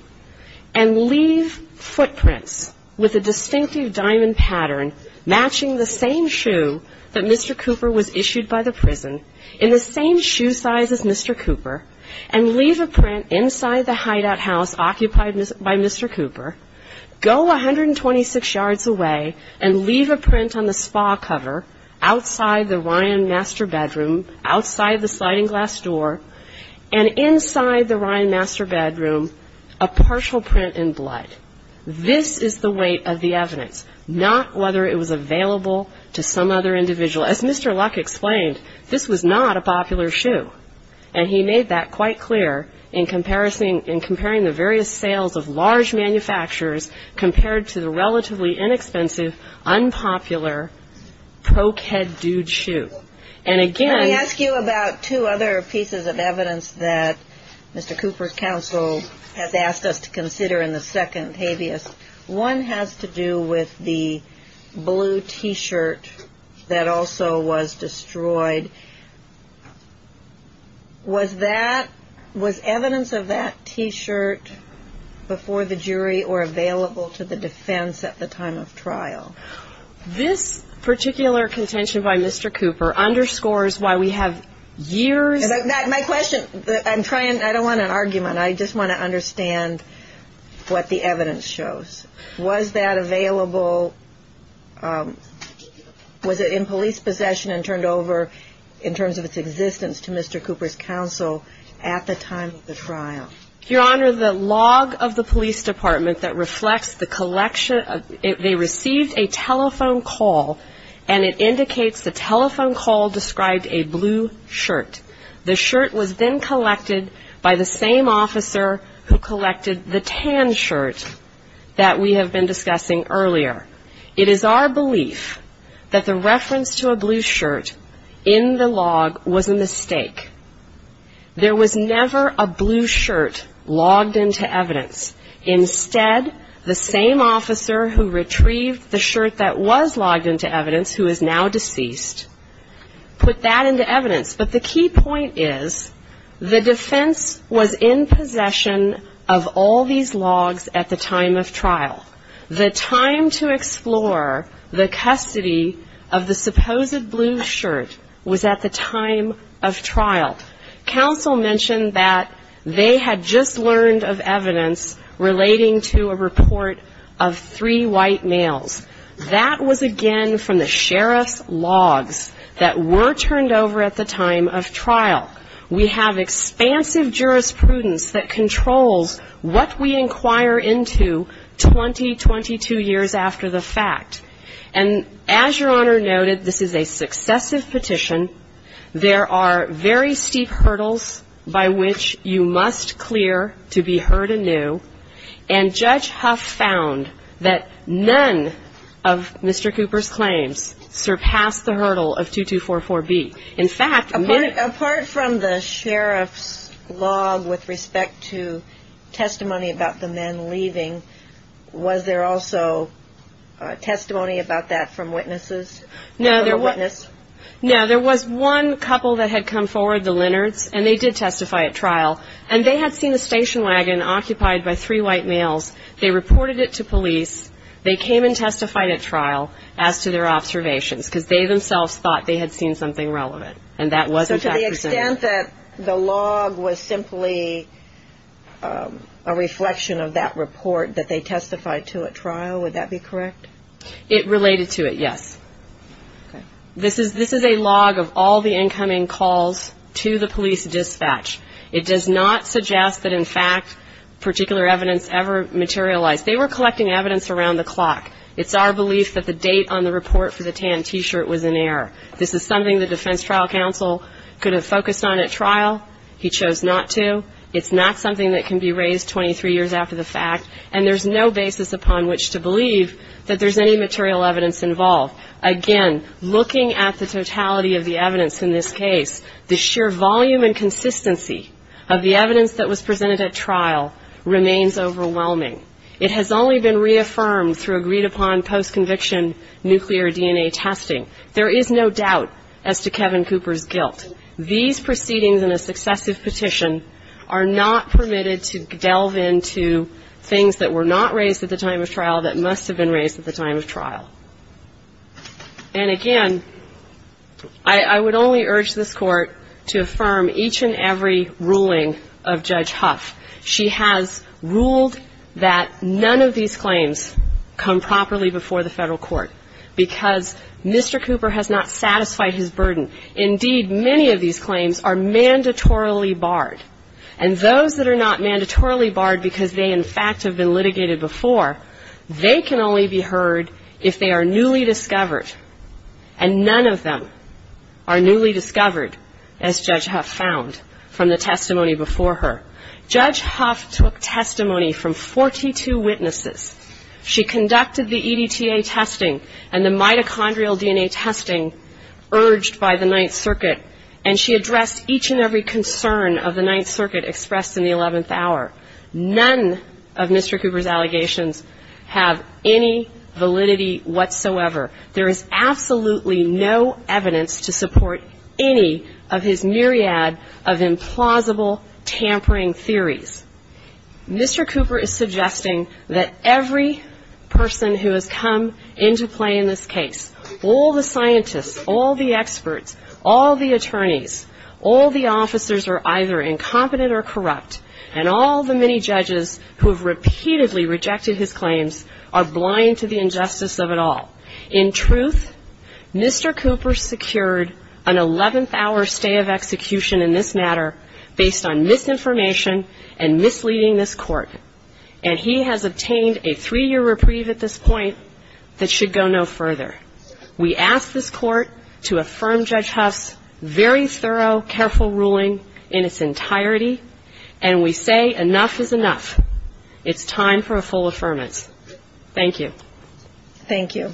and leave footprints with a distinctive diamond pattern matching the same shoe that Mr. Cooper was issued by the prison in the same shoe size as Mr. Cooper, and leave a print inside the hideout house occupied by Mr. Cooper, go 126 yards away and leave a print on the spa cover outside the Ryan master bedroom, outside the sliding glass door, and inside the Ryan master bedroom, a partial print in blood? This is the weight of the evidence, not whether it was available to some other individual. As Mr. Luck explained, this was not a popular shoe, and he made that quite clear in comparing the various sales of large manufacturers compared to the relatively inexpensive, unpopular, pro-kid dude shoe. And again... I ask you about two other pieces of evidence that Mr. Cooper's counsel has asked us to consider in the second habeas. One has to do with the blue T-shirt that also was destroyed. Was that, was evidence of that T-shirt before the jury or available to the defense at the time of trial? This particular contention by Mr. Cooper underscores why we have years... My question, I'm trying, I don't want an argument. I just want to understand what the evidence shows. Was that available, was it in police possession and turned over in terms of its existence to Mr. Cooper's counsel at the time of the trial? Your Honor, the log of the police department that reflects the collection, they received a telephone call and it indicates the telephone call described a blue shirt. The shirt was then collected by the same officer who collected the tan shirt that we have been discussing earlier. It is our belief that the reference to a blue shirt in the log was a mistake. There was never a blue shirt logged into evidence. Instead, the same officer who retrieved the shirt that was logged into evidence, who is now deceased, put that into evidence. But the key point is the defense was in possession of all these logs at the time of trial. The time to explore the custody of the supposed blue shirt was at the time of trial. The counsel mentioned that they had just learned of evidence relating to a report of three white males. That was, again, from the sheriff's logs that were turned over at the time of trial. We have expansive jurisprudence that controls what we inquire into 20, 22 years after the fact. And as Your Honor noted, this is a successive petition. There are very steep hurdles by which you must clear to be heard anew. And Judge Huff found that none of Mr. Cooper's claims surpassed the hurdle of 2244B. In fact, apart from the sheriff's log with respect to testimony about the men leaving, was there also testimony about that from witnesses? No, there was one couple that had come forward, the Lenards, and they did testify at trial. And they had seen a station wagon occupied by three white males. They reported it to police. They came and testified at trial as to their observations, because they themselves thought they had seen something relevant. And that wasn't presented. The extent that the log was simply a reflection of that report that they testified to at trial, would that be correct? It related to it, yes. This is a log of all the incoming calls to the police dispatch. It does not suggest that, in fact, particular evidence ever materialized. They were collecting evidence around the clock. It's our belief that the date on the report for the tan T-shirt was in error. This is something the defense trial counsel could have focused on at trial. He chose not to. It's not something that can be raised 23 years after the fact. And there's no basis upon which to believe that there's any material evidence involved. Again, looking at the totality of the evidence in this case, the sheer volume and consistency of the evidence that was presented at trial remains overwhelming. It has only been reaffirmed through agreed-upon post-conviction nuclear DNA testing. There is no doubt as to Kevin Cooper's guilt. These proceedings in a successive petition are not permitted to delve into things that were not raised at the time of trial that must have been raised at the time of trial. And, again, I would only urge this Court to affirm each and every ruling of Judge Huff. She has ruled that none of these claims come properly before the Federal Court because Mr. Cooper has not satisfied his burden. Indeed, many of these claims are mandatorily barred. And those that are not mandatorily barred because they, in fact, have been litigated before, they can only be heard if they are newly discovered. And none of them are newly discovered, as Judge Huff found from the testimony before her. Judge Huff took testimony from 42 witnesses. She conducted the EDTA testing and the mitochondrial DNA testing urged by the Ninth Circuit, and she addressed each and every concern of the Ninth Circuit expressed in the 11th hour. None of Mr. Cooper's allegations have any validity whatsoever. There is absolutely no evidence to support any of his myriad of implausible, tampering theories. Mr. Cooper is suggesting that every person who has come into play in this case, all the scientists, all the experts, all the attorneys, all the officers are either incompetent or corrupt, and all the many judges who have repeatedly rejected his claims are blind to the injustice of it all. In truth, Mr. Cooper secured an 11th hour stay of execution in this matter based on misinformation and misleading this Court, and he has obtained a three-year reprieve at this point that should go no further. We ask this Court to affirm Judge Huff's very thorough, careful ruling in its entirety, and we say enough is enough. It's time for a full affirmance. Thank you. Thank you.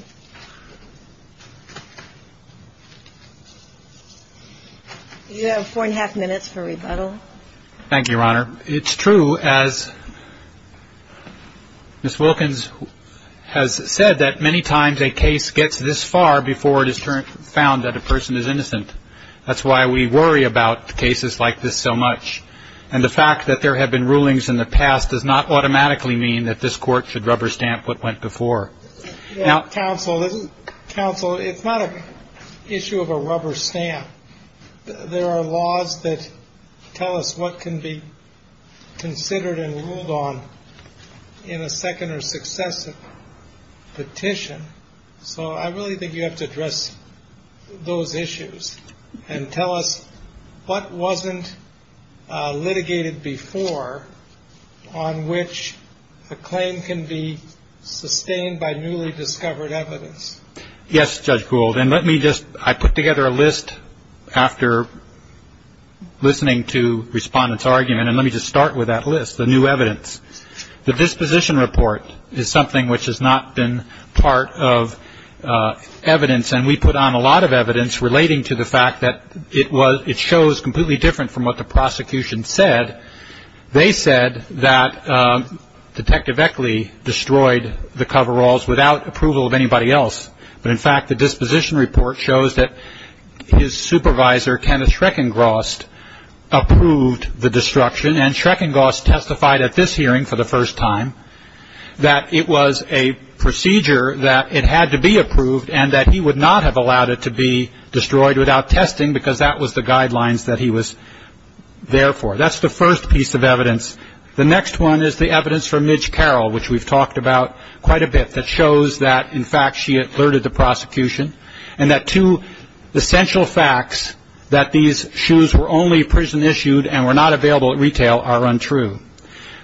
You have four and a half minutes for rebuttal. Thank you, Your Honor. It's true, as Ms. Wilkins has said, that many times a case gets this far before it is found that a person is innocent. That's why we worry about cases like this so much, and the fact that there have been rulings in the past does not automatically mean that this Court should rubber stamp what went before. Counsel, it's not an issue of a rubber stamp. There are laws that tell us what can be considered and ruled on in a second or successive petition, so I really think you have to address those issues and tell us what wasn't litigated before on which a claim can be sustained by newly discovered evidence. Yes, Judge Gould, and let me just, I put together a list after listening to Respondent's argument, and let me just start with that list, the new evidence. The disposition report is something which has not been part of evidence, and we put on a lot of evidence relating to the fact that it shows completely different from what the prosecution said. They said that Detective Eckley destroyed the coveralls without approval of anybody else, but, in fact, the disposition report shows that his supervisor, Kenneth Schreckengraust, approved the destruction, and Schreckengraust testified at this hearing for the first time that it was a procedure that it had to be approved and that he would not have allowed it to be destroyed without testing because that was the guidelines that he was there for. That's the first piece of evidence. The next one is the evidence from Midge Carroll, which we've talked about quite a bit, that shows that, in fact, she alerted the prosecution, and that two essential facts, that these shoes were only prison issued and were not available at retail, are untrue.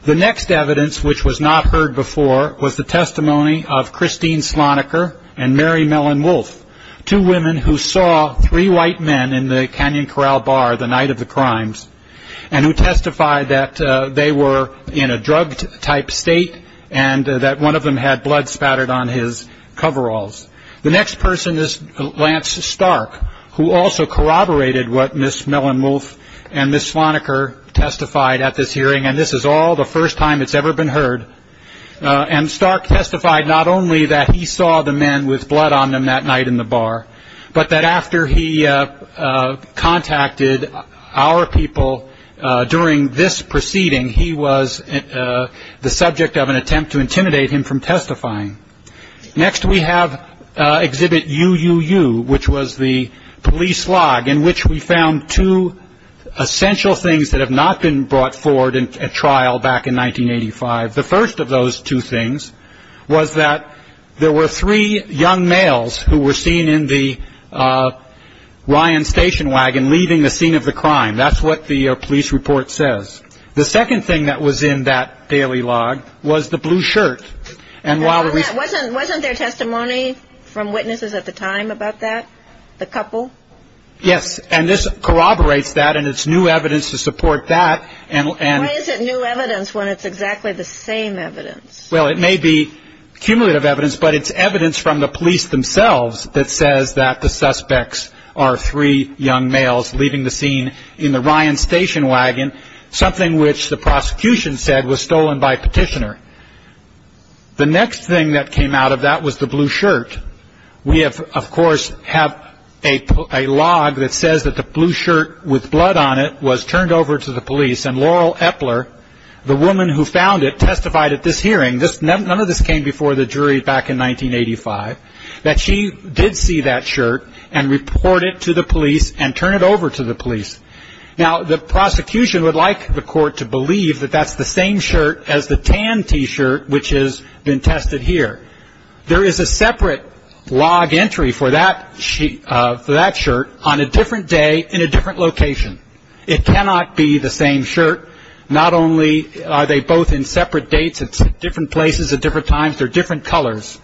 The next evidence, which was not heard before, was the testimony of Christine Sloniker and Mary Mellon-Wolf, two women who saw three white men in the Canyon Corral Bar the night of the crimes and who testified that they were in a drug-type state and that one of them had blood spattered on his coveralls. The next person is Lance Stark, who also corroborated what Ms. Mellon-Wolf and Ms. Sloniker testified at this hearing, and this is all the first time it's ever been heard. And Stark testified not only that he saw the men with blood on them that night in the bar, but that after he contacted our people during this proceeding, he was the subject of an attempt to intimidate him from testifying. Next we have Exhibit UUU, which was the police log in which we found two essential things that have not been brought forward at trial back in 1985. The first of those two things was that there were three young males who were seen in the Ryan Station Wagon leaving the scene of the crime. That's what the police report says. The second thing that was in that daily log was the blue shirt. Wasn't there testimony from witnesses at the time about that, the couple? Yes, and this corroborates that, and it's new evidence to support that. Why is it new evidence when it's exactly the same evidence? Well, it may be cumulative evidence, but it's evidence from the police themselves that says that the suspects are three young males leaving the scene in the Ryan Station Wagon, something which the prosecution said was stolen by a petitioner. The next thing that came out of that was the blue shirt. We, of course, have a log that says that the blue shirt with blood on it was turned over to the police, and Laurel Epler, the woman who found it, testified at this hearing. None of this came before the jury back in 1985, that she did see that shirt and report it to the police and turn it over to the police. Now, the prosecution would like the court to believe that that's the same shirt as the tan T-shirt which has been tested here. There is a separate log entry for that shirt on a different day in a different location. It cannot be the same shirt. Not only are they both in separate dates, it's different places at different times, they're different colors.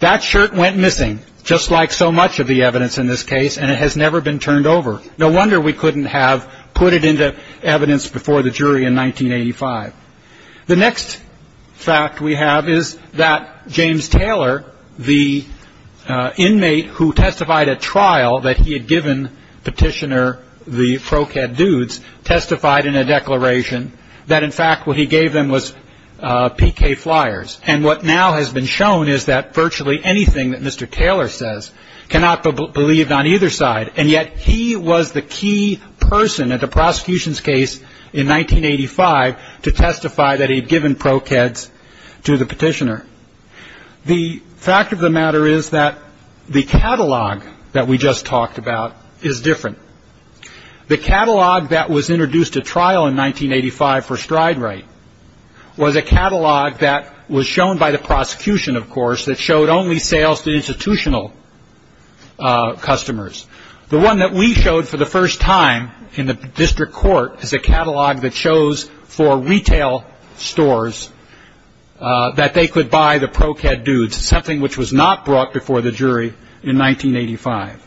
That shirt went missing, just like so much of the evidence in this case, and it has never been turned over. No wonder we couldn't have put it into evidence before the jury in 1985. The next fact we have is that James Taylor, the inmate who testified at trial that he had given Petitioner the ProCad dudes, testified in a declaration that in fact what he gave them was PK flyers. And what now has been shown is that virtually anything that Mr. Taylor says cannot be believed on either side. And yet he was the key person at the prosecution's case in 1985 to testify that he had given ProCads to the Petitioner. The fact of the matter is that the catalog that we just talked about is different. The catalog that was introduced at trial in 1985 for stride right was a catalog that was shown by the prosecution, of course, that showed only sales to institutional customers. The one that we showed for the first time in the district court is a catalog that shows for retail stores that they could buy the ProCad dudes, something which was not brought before the jury in 1985.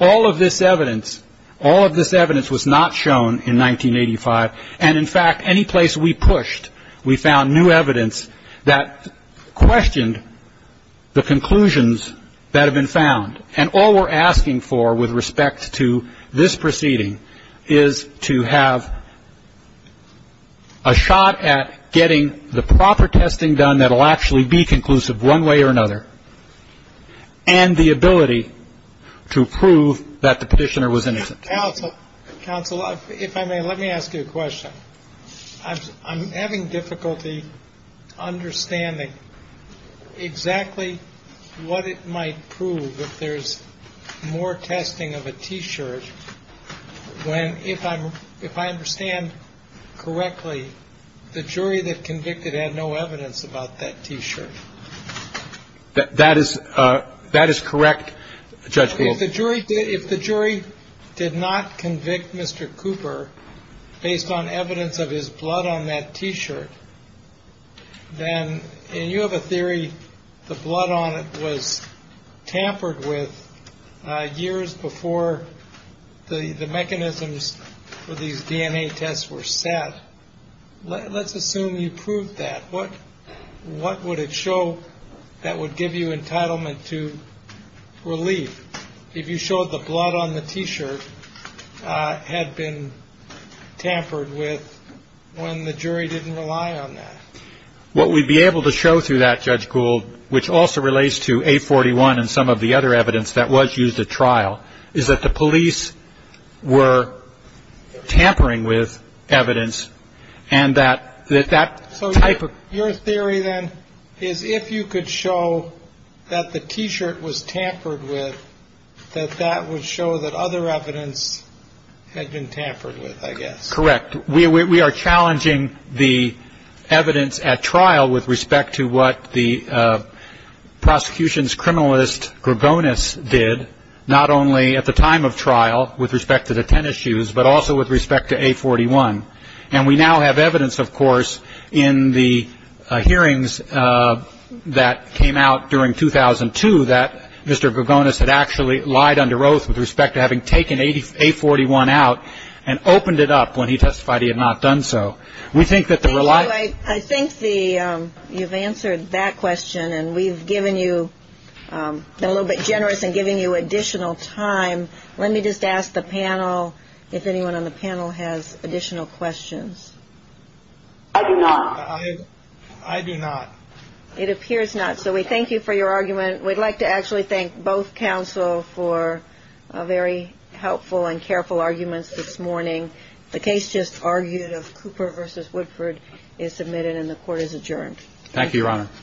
All of this evidence, all of this evidence was not shown in 1985. And in fact, any place we pushed, we found new evidence that questioned the conclusions that have been found. And all we're asking for with respect to this proceeding is to have a shot at the jury, getting the proper testing done that will actually be conclusive one way or another, and the ability to prove that the Petitioner was innocent. Counsel, if I may, let me ask you a question. I'm having difficulty understanding exactly what it might prove if there's more testing of a T-shirt when, if I understand correctly, the jury that convicted had no evidence about that T-shirt. That is correct, Judge Gould. If the jury did not convict Mr. Cooper based on evidence of his blood on that T-shirt, then you have a theory the blood on it was tampered with years before the mechanism for these DNA tests were set. Let's assume you proved that. What would it show that would give you entitlement to relief if you showed the blood on the T-shirt had been tampered with when the jury didn't rely on that? What we'd be able to show through that, Judge Gould, which also relates to A41 and some of the other evidence that was used at trial, is that the police were tampering with evidence and that that type of ---- So your theory then is if you could show that the T-shirt was tampered with, that that would show that other evidence had been tampered with, I guess. Correct. We are challenging the evidence at trial with respect to what the prosecution's criminalist Gregonis did, not only at the time of trial with respect to the tennis shoes, but also with respect to A41. And we now have evidence, of course, in the hearings that came out during 2002 that Mr. Gregonis had actually lied under oath with respect to having taken A41 out and opened it up when he testified he had not done so. I think you've answered that question, and we've been a little bit generous in giving you additional time. Let me just ask the panel if anyone on the panel has additional questions. I do not. I do not. It appears not, so we thank you for your argument. We'd like to actually thank both counsel for very helpful and careful arguments this morning. The case just argued of Cooper v. Woodford is submitted and the court is adjourned.